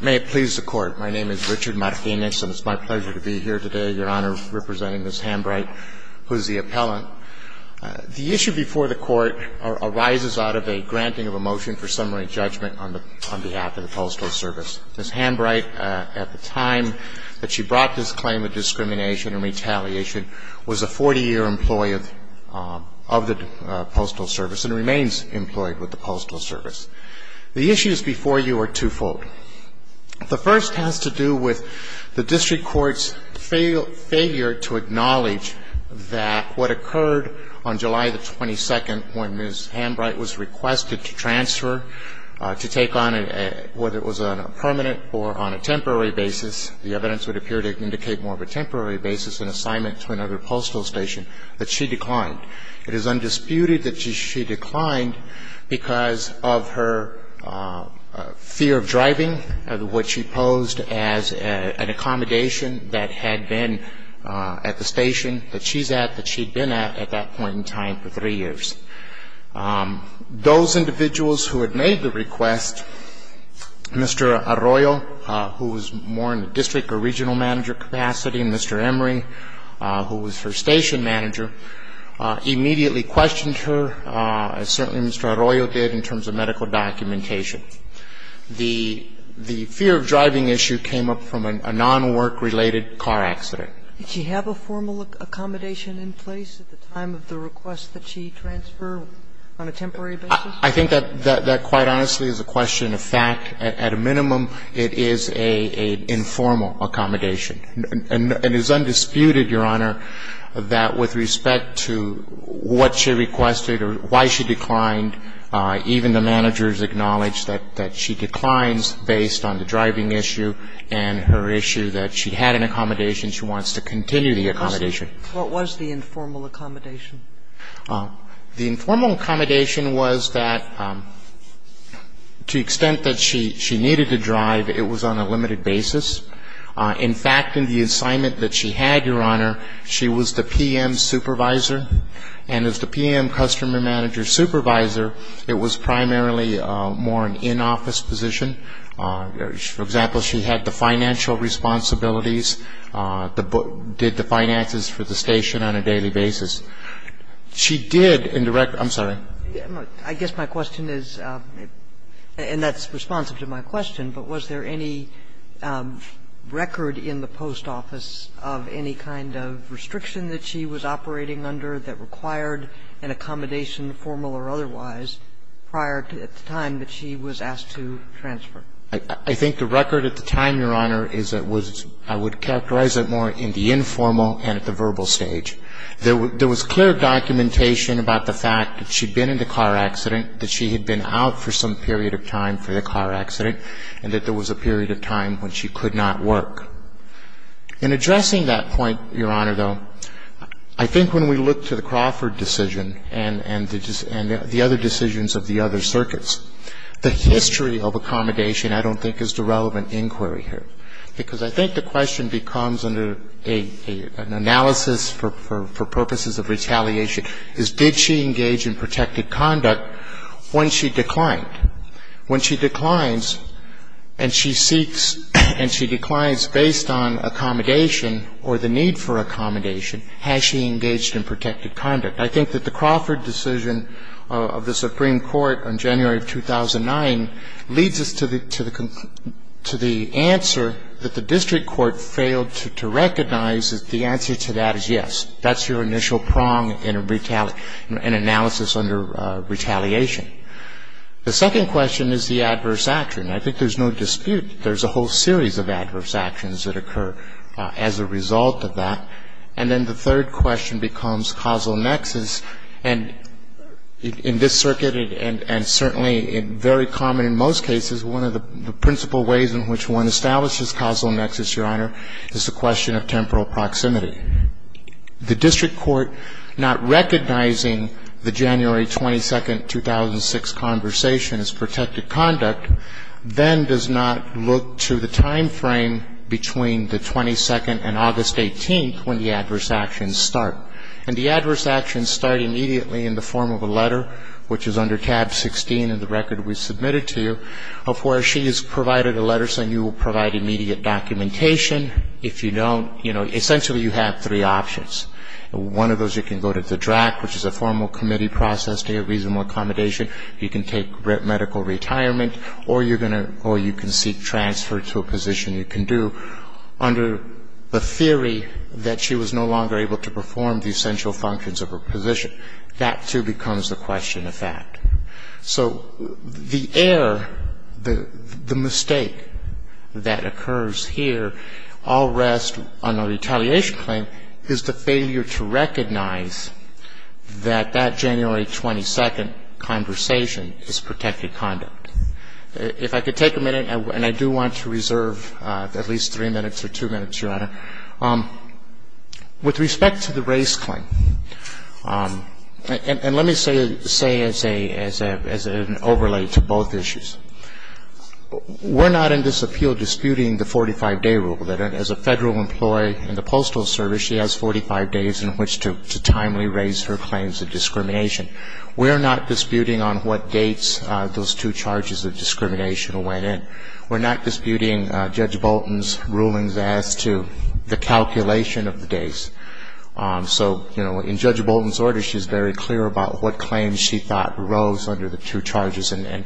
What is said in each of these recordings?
May it please the Court, my name is Richard Martinez and it's my pleasure to be here today, Your Honor, representing Ms. Hambright, who is the appellant. The issue before the Court arises out of a granting of a motion for summary judgment on behalf of the Postal Service. Ms. Hambright, at the time that she brought this claim of discrimination and retaliation, was a 40-year employee of the Postal Service and remains employed with the Postal Service. The issues before you are twofold. The first has to do with the district court's failure to acknowledge that what occurred on July the 22nd when Ms. Hambright was requested to transfer, to take on a, whether it was a permanent or on a temporary basis, the evidence would appear to indicate more of a temporary basis, an assignment to another postal station, that she declined. It is undisputed that she declined because of her fear of driving and what she posed as an accommodation that had been at the station that she's at, that she'd been at, at that point in time for three years. Those individuals who had made the request, Mr. Arroyo, who was more in the district or regional manager capacity, and Mr. Emory, who was her station manager, immediately questioned her, as certainly Mr. Arroyo did in terms of medical documentation. The fear of driving issue came up from a non-work-related car accident. Did she have a formal accommodation in place at the time of the request that she transferred on a temporary basis? I think that quite honestly is a question of fact. At a minimum, it is an informal accommodation. And it is undisputed, Your Honor, that with respect to what she requested or why she declined, even the managers acknowledge that she declines based on the driving issue and her issue that she had an accommodation. She wants to continue the accommodation. What was the informal accommodation? The informal accommodation was that to the extent that she needed to drive, it was on a limited basis. In fact, in the assignment that she had, Your Honor, she was the PM supervisor. And as the PM customer manager supervisor, it was primarily more an in-office position. For example, she had the financial responsibilities, did the finances for the station on a daily basis. She did in the record – I'm sorry. I guess my question is, and that's responsive to my question, but was there any record in the post office of any kind of restriction that she was operating under that required an accommodation, formal or otherwise, prior to at the time that she was asked to transfer? I think the record at the time, Your Honor, is that was – I would characterize it more in the informal and at the verbal stage. There was clear documentation about the fact that she'd been in the car accident, that she had been out for some period of time for the car accident, and that there was a period of time when she could not work. In addressing that point, Your Honor, though, I think when we look to the Crawford decision and the other decisions of the other circuits, the history of accommodation I don't think is the relevant inquiry here. Because I think the question becomes, under an analysis for purposes of retaliation, is did she engage in protected conduct when she declined? When she declines and she seeks and she declines based on accommodation or the need for accommodation, has she engaged in protected conduct? I think that the Crawford decision of the Supreme Court on January of 2009 leads us to the answer that the district court failed to recognize. The answer to that is yes. That's your initial prong in an analysis under retaliation. The second question is the adverse action. I think there's no dispute that there's a whole series of adverse actions that occur as a result of that. And then the third question becomes causal nexus. And in this circuit and certainly very common in most cases, one of the principal ways in which one establishes causal nexus, Your Honor, is the question of temporal proximity. The district court not recognizing the January 22, 2006 conversation as protected conduct then does not look to the timeframe between the 22nd and August 18th when the adverse actions start. And the adverse actions start immediately in the form of a letter, which is under tab 16 in the record we submitted to you, of where she has provided a letter saying you will provide immediate documentation. If you don't, you know, essentially you have three options. One of those you can go to the DRAC, which is a formal committee process to get reasonable accommodation. You can take medical retirement or you can seek transfer to a position you can do. Under the theory that she was no longer able to perform the essential functions of her position, that, too, becomes a question of fact. So the error, the mistake that occurs here all rests on a retaliation claim is the failure to recognize that that January 22 conversation is protected conduct. If I could take a minute, and I do want to reserve at least three minutes or two minutes, Your Honor. With respect to the race claim, and let me say as an overlay to both issues, we're not in this appeal disputing the 45-day rule, that as a Federal employee in the Postal Service, she has 45 days in which to timely raise her claims of discrimination. We're not disputing on what dates those two charges of discrimination went in. We're not disputing Judge Bolton's rulings as to the calculation of the days. So, you know, in Judge Bolton's order, she's very clear about what claims she thought arose under the two charges, and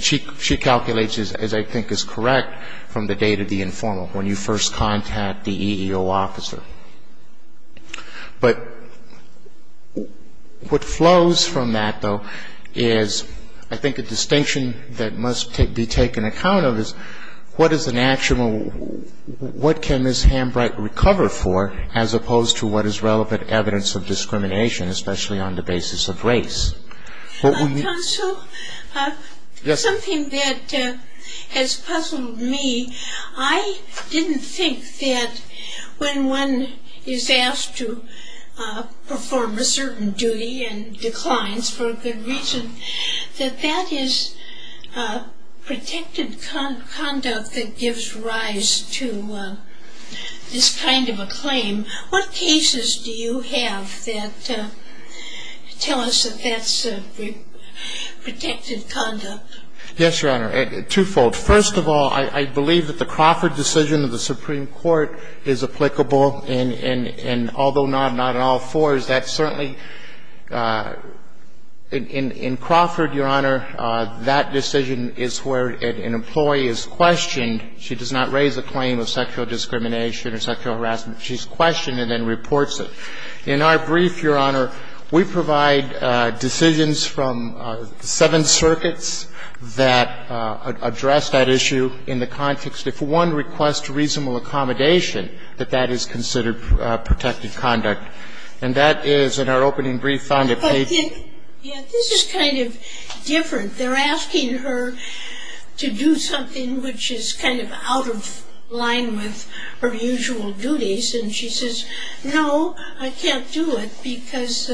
she calculates, as I think is correct, from the date of the informal, when you first contact the EEO officer. But what flows from that, though, is I think a distinction that must be taken account of is what is an actual, what can Ms. Hambright recover for as opposed to what is relevant evidence of discrimination, especially on the basis of race? Counsel, something that has puzzled me. I didn't think that when one is asked to perform a certain duty and declines for a good reason, that that is protected conduct that gives rise to this kind of a claim. What cases do you have that tell us that that's protected conduct? Yes, Your Honor. Twofold. First of all, I believe that the Crawford decision of the Supreme Court is applicable, and although not in all fours, that certainly, in Crawford, Your Honor, that decision is where an employee is questioned. She does not raise a claim of sexual discrimination or sexual harassment. She's questioned it and reports it. In our brief, Your Honor, we provide decisions from seven circuits that address that issue in the context, if one requests reasonable accommodation, that that is considered protected conduct. And that is, in our opening brief, found that they do. But this is kind of different. They're asking her to do something which is kind of out of line with her usual duties, and she says, no, I can't do it because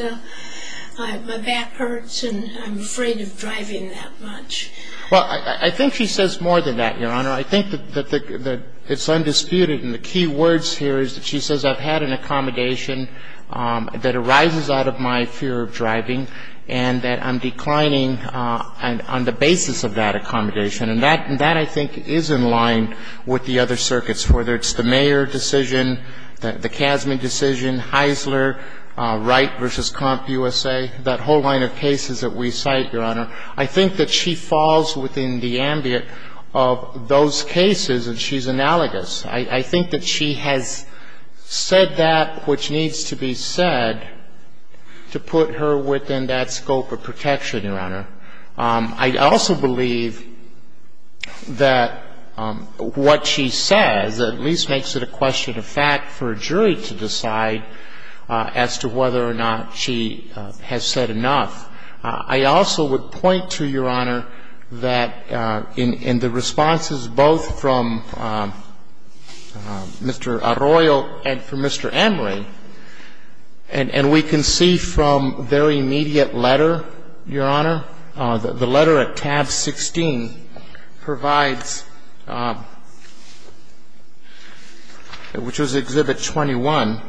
my back hurts and I'm afraid of driving that much. Well, I think she says more than that, Your Honor. I think that it's undisputed, and the key words here is that she says, I've had an accommodation that arises out of my fear of driving, and that I'm declining on the basis of that accommodation. And that, I think, is in line with the other circuits, whether it's the Mayer decision, the Kasman decision, Heisler, Wright v. Comp USA, that whole line of cases that we cite, Your Honor. I think that she falls within the ambit of those cases, and she's analogous. I think that she has said that which needs to be said to put her within that scope of protection, Your Honor. I also believe that what she says at least makes it a question of fact for a jury to decide as to whether or not she has said enough. I also would point to, Your Honor, that in the responses both from Mr. Arroyo and from Mr. Emery, and we can see from their immediate letter, Your Honor, the letter at tab 16 provides, which was Exhibit 21,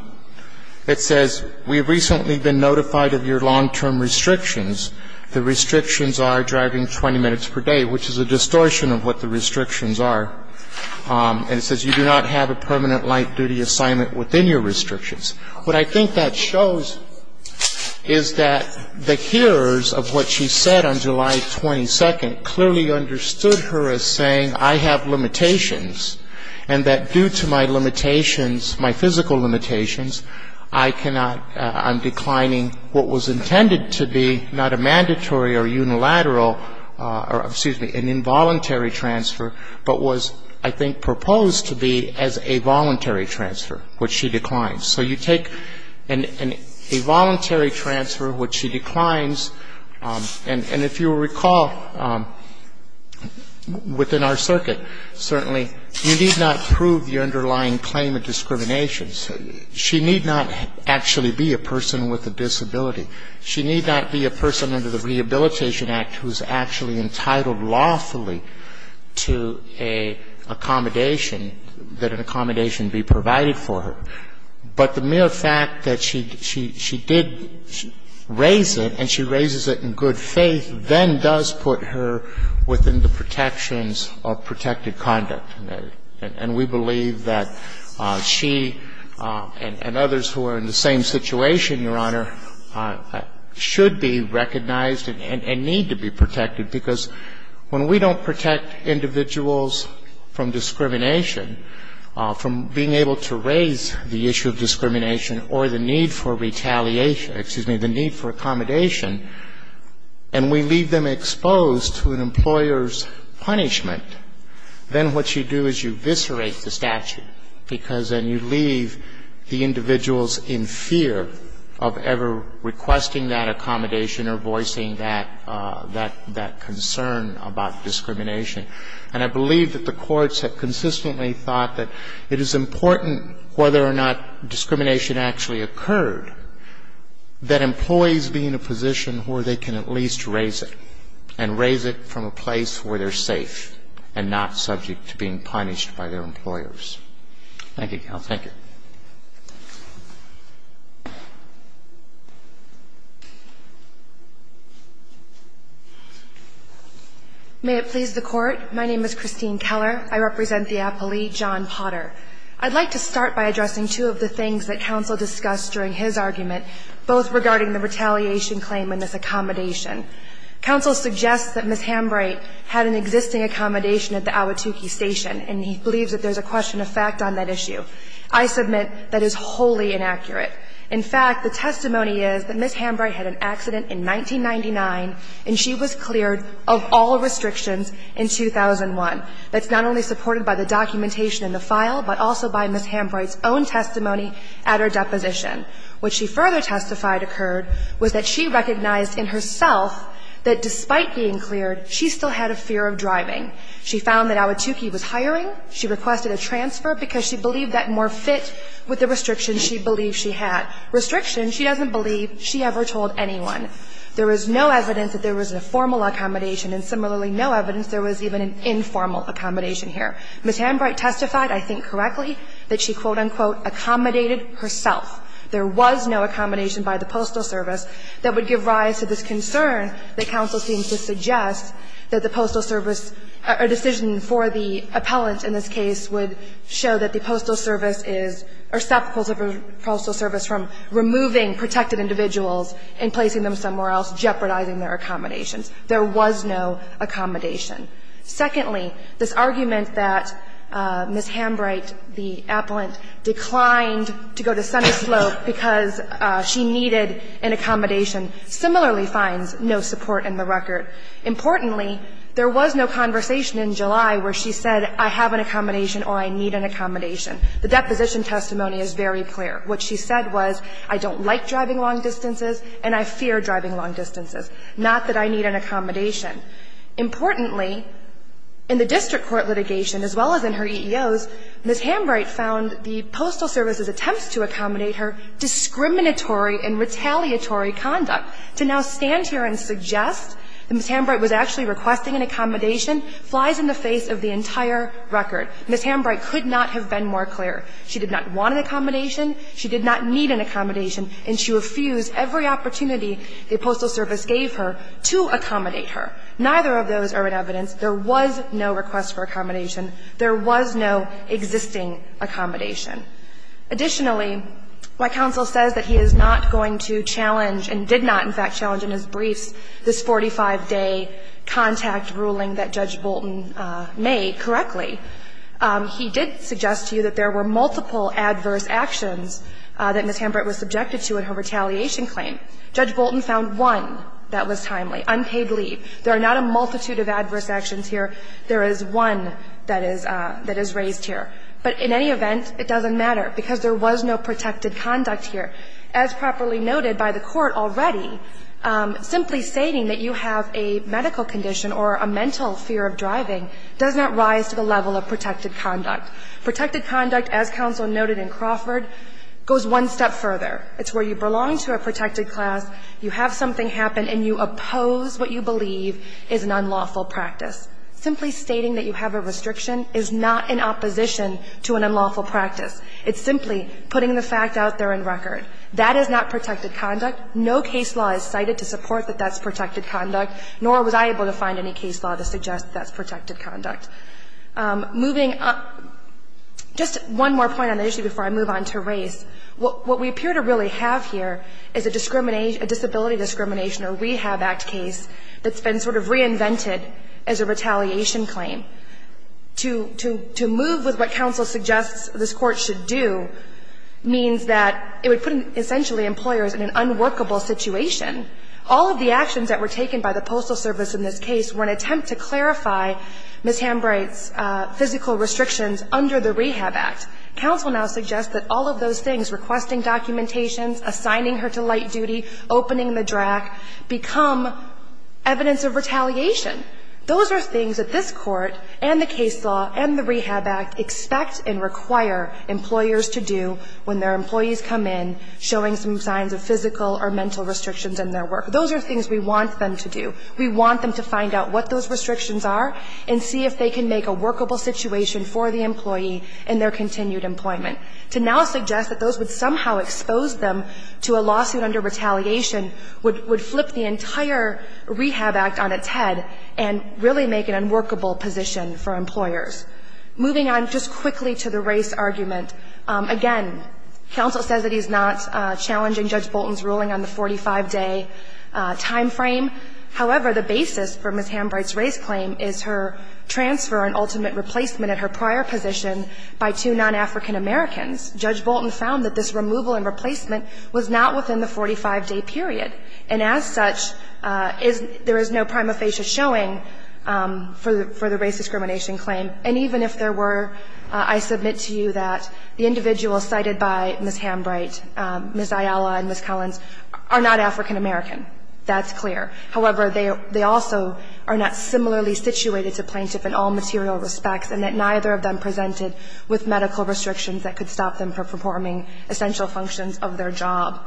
it says, We have recently been notified of your long-term restrictions. The restrictions are driving 20 minutes per day, which is a distortion of what the restrictions are. And it says, You do not have a permanent light-duty assignment within your restrictions. What I think that shows is that the hearers of what she said on July 22nd clearly understood her as saying, I have limitations, and that due to my limitations, my physical limitations, I cannot, I'm declining what was intended to be not a mandatory or unilateral or, excuse me, an involuntary transfer, but was, I think, proposed to be as a voluntary transfer, which she declines. So you take a voluntary transfer, which she declines. And if you recall within our circuit, certainly, you need not prove your underlying claim of discrimination. She need not actually be a person with a disability. She need not be a person under the Rehabilitation Act who's actually entitled lawfully to an accommodation, that an accommodation be provided for her. But the mere fact that she did raise it, and she raises it in good faith, then does put her within the protections of protected conduct. And we believe that she and others who are in the same situation, Your Honor, should be recognized and need to be protected, because when we don't protect individuals from discrimination, from being able to raise the issue of discrimination or the need for retaliation, excuse me, the need for accommodation, and we leave them exposed to an employer's punishment, then what you do is you eviscerate the statute, because then you leave the individuals in fear of ever requesting that accommodation or voicing that concern about discrimination. And I believe that the courts have consistently thought that it is important, whether or not discrimination actually occurred, that employees be in a position where they can at least raise it, and raise it from a place where they're safe and not subject to being punished by their employers. Thank you, counsel. Thank you. May it please the Court. My name is Christine Keller. I represent the appellee John Potter. I'd like to start by addressing two of the things that counsel discussed during his argument, both regarding the retaliation claim and this accommodation. Counsel suggests that Ms. Hambright had an existing accommodation at the Ahwatukee Station, and he believes that there's a question of fact on that issue. I submit that is wholly inaccurate. In fact, the testimony is that Ms. Hambright had an accident in 1999, and she was cleared of all restrictions in 2001. That's not only supported by the documentation in the file, but also by Ms. Hambright's own testimony at her deposition. What she further testified occurred was that she recognized in herself that despite being cleared, she still had a fear of driving. She found that Ahwatukee was hiring. She requested a transfer because she believed that more fit with the restrictions she believed she had. Restrictions she doesn't believe she ever told anyone. There was no evidence that there was a formal accommodation, and similarly, no evidence there was even an informal accommodation here. Ms. Hambright testified, I think correctly, that she, quote, unquote, accommodated herself. There was no accommodation by the Postal Service that would give rise to this concern that counsel seems to suggest that the Postal Service, a decision for the appellant in this case, would show that the Postal Service is, or stop the Postal Service from removing protected individuals and placing them somewhere else, jeopardizing their accommodations. There was no accommodation. Secondly, this argument that Ms. Hambright, the appellant, declined to go to Sunnyslope because she needed an accommodation similarly finds no support in the record. Importantly, there was no conversation in July where she said, I have an accommodation or I need an accommodation. The deposition testimony is very clear. What she said was, I don't like driving long distances and I fear driving long distances, not that I need an accommodation. Importantly, in the district court litigation, as well as in her EEOs, Ms. Hambright found the Postal Service's attempts to accommodate her discriminatory and retaliatory conduct. To now stand here and suggest that Ms. Hambright was actually requesting an accommodation flies in the face of the entire record. Ms. Hambright could not have been more clear. She did not want an accommodation. She did not need an accommodation. And she refused every opportunity the Postal Service gave her to accommodate Neither of those are in evidence. There was no request for accommodation. There was no existing accommodation. Additionally, my counsel says that he is not going to challenge and did not, in fact, challenge in his briefs this 45-day contact ruling that Judge Bolton made correctly. He did suggest to you that there were multiple adverse actions that Ms. Hambright was subjected to in her retaliation claim. Judge Bolton found one that was timely, unpaid leave. There are not a multitude of adverse actions here. There is one that is raised here. But in any event, it doesn't matter because there was no protected conduct here. As properly noted by the Court already, simply stating that you have a medical condition or a mental fear of driving does not rise to the level of protected conduct. Protected conduct, as counsel noted in Crawford, goes one step further. It's where you belong to a protected class, you have something happen, and you oppose what you believe is an unlawful practice. Simply stating that you have a restriction is not in opposition to an unlawful practice. It's simply putting the fact out there in record. That is not protected conduct. No case law is cited to support that that's protected conduct, nor was I able to find any case law to suggest that's protected conduct. Moving up, just one more point on the issue before I move on to race. What we appear to really have here is a discrimination, a disability discrimination or Rehab Act case that's been sort of reinvented as a retaliation claim. To move with what counsel suggests this Court should do means that it would put essentially employers in an unworkable situation. All of the actions that were taken by the Postal Service in this case were an attempt to clarify Ms. Hambright's physical restrictions under the Rehab Act. Counsel now suggests that all of those things, requesting documentations, assigning her to light duty, opening the drack, become evidence of retaliation. Those are things that this Court and the case law and the Rehab Act expect and require employers to do when their employees come in showing some signs of physical or mental restrictions in their work. Those are things we want them to do. We want them to find out what those restrictions are and see if they can make a workable situation for the employee in their continued employment. To now suggest that those would somehow expose them to a lawsuit under retaliation would flip the entire Rehab Act on its head and really make an unworkable position for employers. Moving on just quickly to the race argument. Again, counsel says that he's not challenging Judge Bolton's ruling on the 45-day time frame. However, the basis for Ms. Hambright's race claim is her transfer and ultimate replacement at her prior position by two non-African Americans. Judge Bolton found that this removal and replacement was not within the 45-day period. And as such, there is no prima facie showing for the race discrimination claim. And even if there were, I submit to you that the individuals cited by Ms. Hambright, Ms. Ayala, and Ms. Collins are not African American. That's clear. However, they also are not similarly situated to plaintiff in all material respects and that neither of them presented with medical restrictions that could stop them from performing essential functions of their job.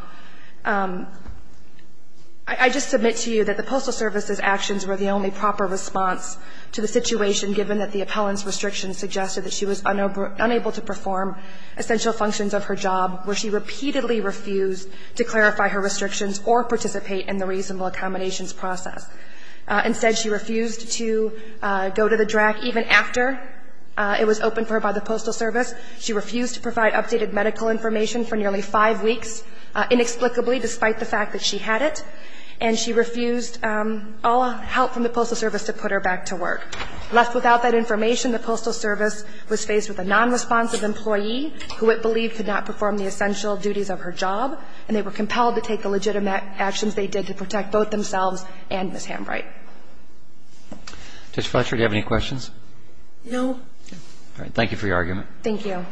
I just submit to you that the Postal Service's actions were the only proper response to the situation given that the appellant's restrictions suggested that she was unable to perform essential functions of her job, where she repeatedly refused to clarify her restrictions or participate in the reasonable accommodations process. Instead, she refused to go to the DRAC even after it was opened for her by the Postal Service. She refused to provide updated medical information for nearly five weeks, inexplicably, despite the fact that she had it. And she refused all help from the Postal Service to put her back to work. Left without that information, the Postal Service was faced with a non-responsive employee who it believed could not perform the essential duties of her job, and they were compelled to take the legitimate actions they did to protect both themselves and Ms. Hamright. Mr. Fletcher, do you have any questions? No. Thank you for your argument. Thank you.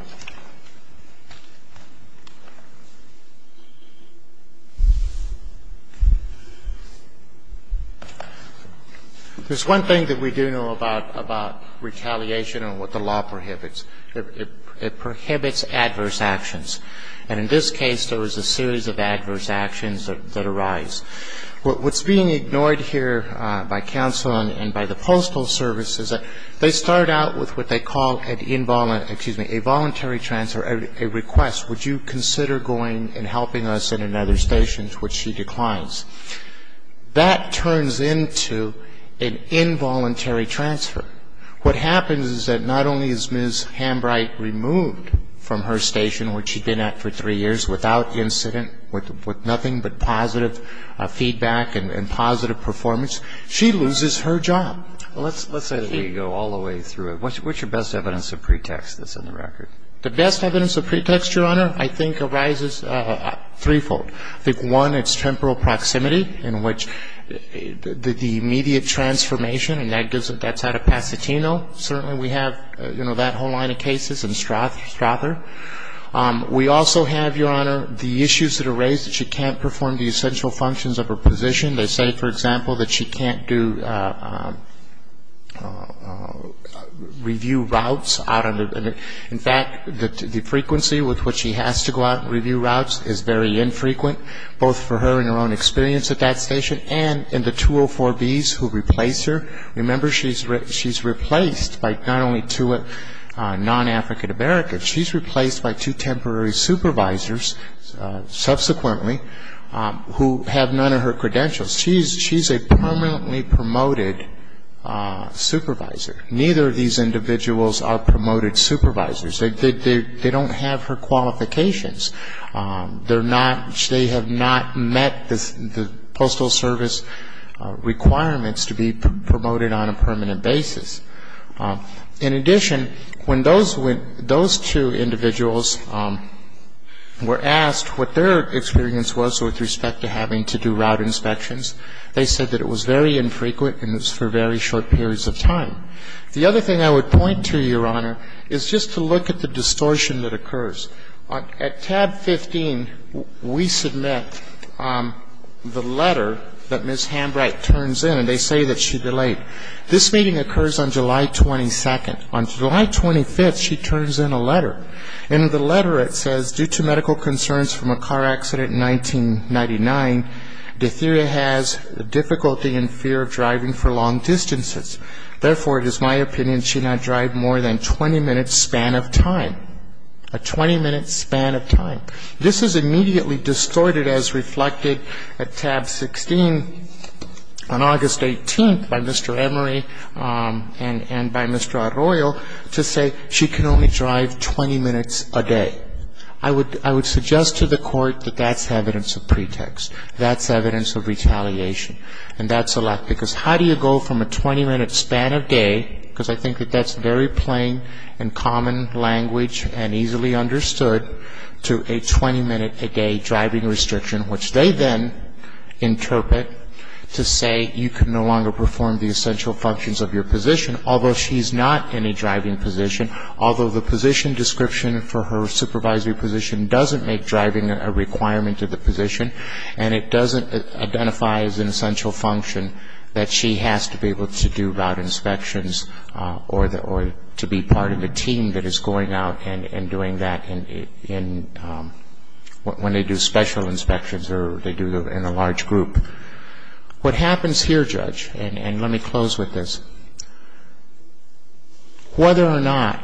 There's one thing that we do know about retaliation and what the law prohibits. It prohibits adverse actions. And in this case, there was a series of adverse actions that arise. What's being ignored here by counsel and by the Postal Service is that they start out with what they call a voluntary transfer, a request, would you consider going and helping us at another station, to which she declines. That turns into an involuntary transfer. What happens is that not only is Ms. Hamright removed from her station, where she'd been at for three years without incident, with nothing but positive feedback and positive performance, she loses her job. Let's say that we go all the way through it. What's your best evidence of pretext that's in the record? The best evidence of pretext, Your Honor, I think arises threefold. I think, one, it's temporal proximity, in which the immediate transformation, and that's out of Pasatino. Certainly we have that whole line of cases in Strother. We also have, Your Honor, the issues that are raised, that she can't perform the essential functions of her position. They say, for example, that she can't do review routes. In fact, the frequency with which she has to go out and review routes is very infrequent, both for her and her own experience at that station and in the 204Bs who replace her. Remember, she's replaced by not only two non-African-Americans. She's replaced by two temporary supervisors, subsequently, who have none of her credentials. She's a permanently promoted supervisor. Neither of these individuals are promoted supervisors. They don't have her qualifications. They have not met the Postal Service requirements to be promoted on a permanent basis. In addition, when those two individuals were asked what their experience was with respect to having to do route inspections, they said that it was very infrequent and it was for very short periods of time. The other thing I would point to, Your Honor, is just to look at the distortion that occurs. At tab 15, we submit the letter that Ms. Hambright turns in, and they say that she delayed. This meeting occurs on July 22nd. On July 25th, she turns in a letter. In the letter, it says, due to medical concerns from a car accident in 1999, Datheria has difficulty in fear of driving for long distances. Therefore, it is my opinion she not drive more than 20 minutes span of time. A 20-minute span of time. This is immediately distorted as reflected at tab 16 on August 18th by Mr. Emery and by Mr. Arroyo to say she can only drive 20 minutes a day. I would suggest to the Court that that's evidence of pretext. That's evidence of retaliation. And that's a lot. Because how do you go from a 20-minute span of day, because I think that that's very plain and common language and easily understood, to a 20-minute a day driving restriction, which they then interpret to say you can no longer perform the essential functions of your position, although she's not in a driving position, although the position description for her supervisory position doesn't make driving a requirement of the position, and it doesn't identify as an essential function that she has to be able to do route inspections or to be part of a team that is going out and doing that when they do special inspections or they do in a large group. What happens here, Judge, and let me close with this, whether or not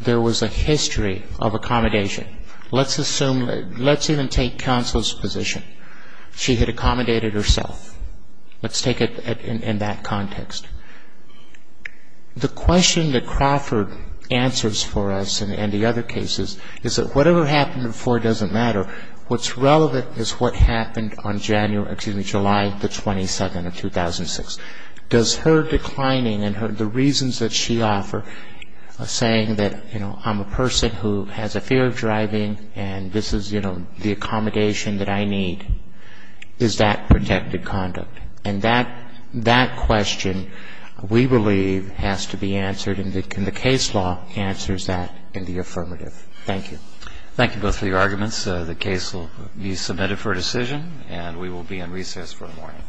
there was a history of accommodation, let's assume, let's even take counsel's position. She had accommodated herself. Let's take it in that context. The question that Crawford answers for us in the other cases is that whatever happened before doesn't matter. What's relevant is what happened on July the 27th of 2006. Does her declining and the reasons that she offered, saying that I'm a person who has a fear of driving and this is, you know, the accommodation that I need, is that protected conduct? And that question, we believe, has to be answered, and the case law answers that in the affirmative. Thank you. Thank you both for your arguments. The case will be submitted for decision, and we will be in recess for the morning. All rise. Court is adjourned.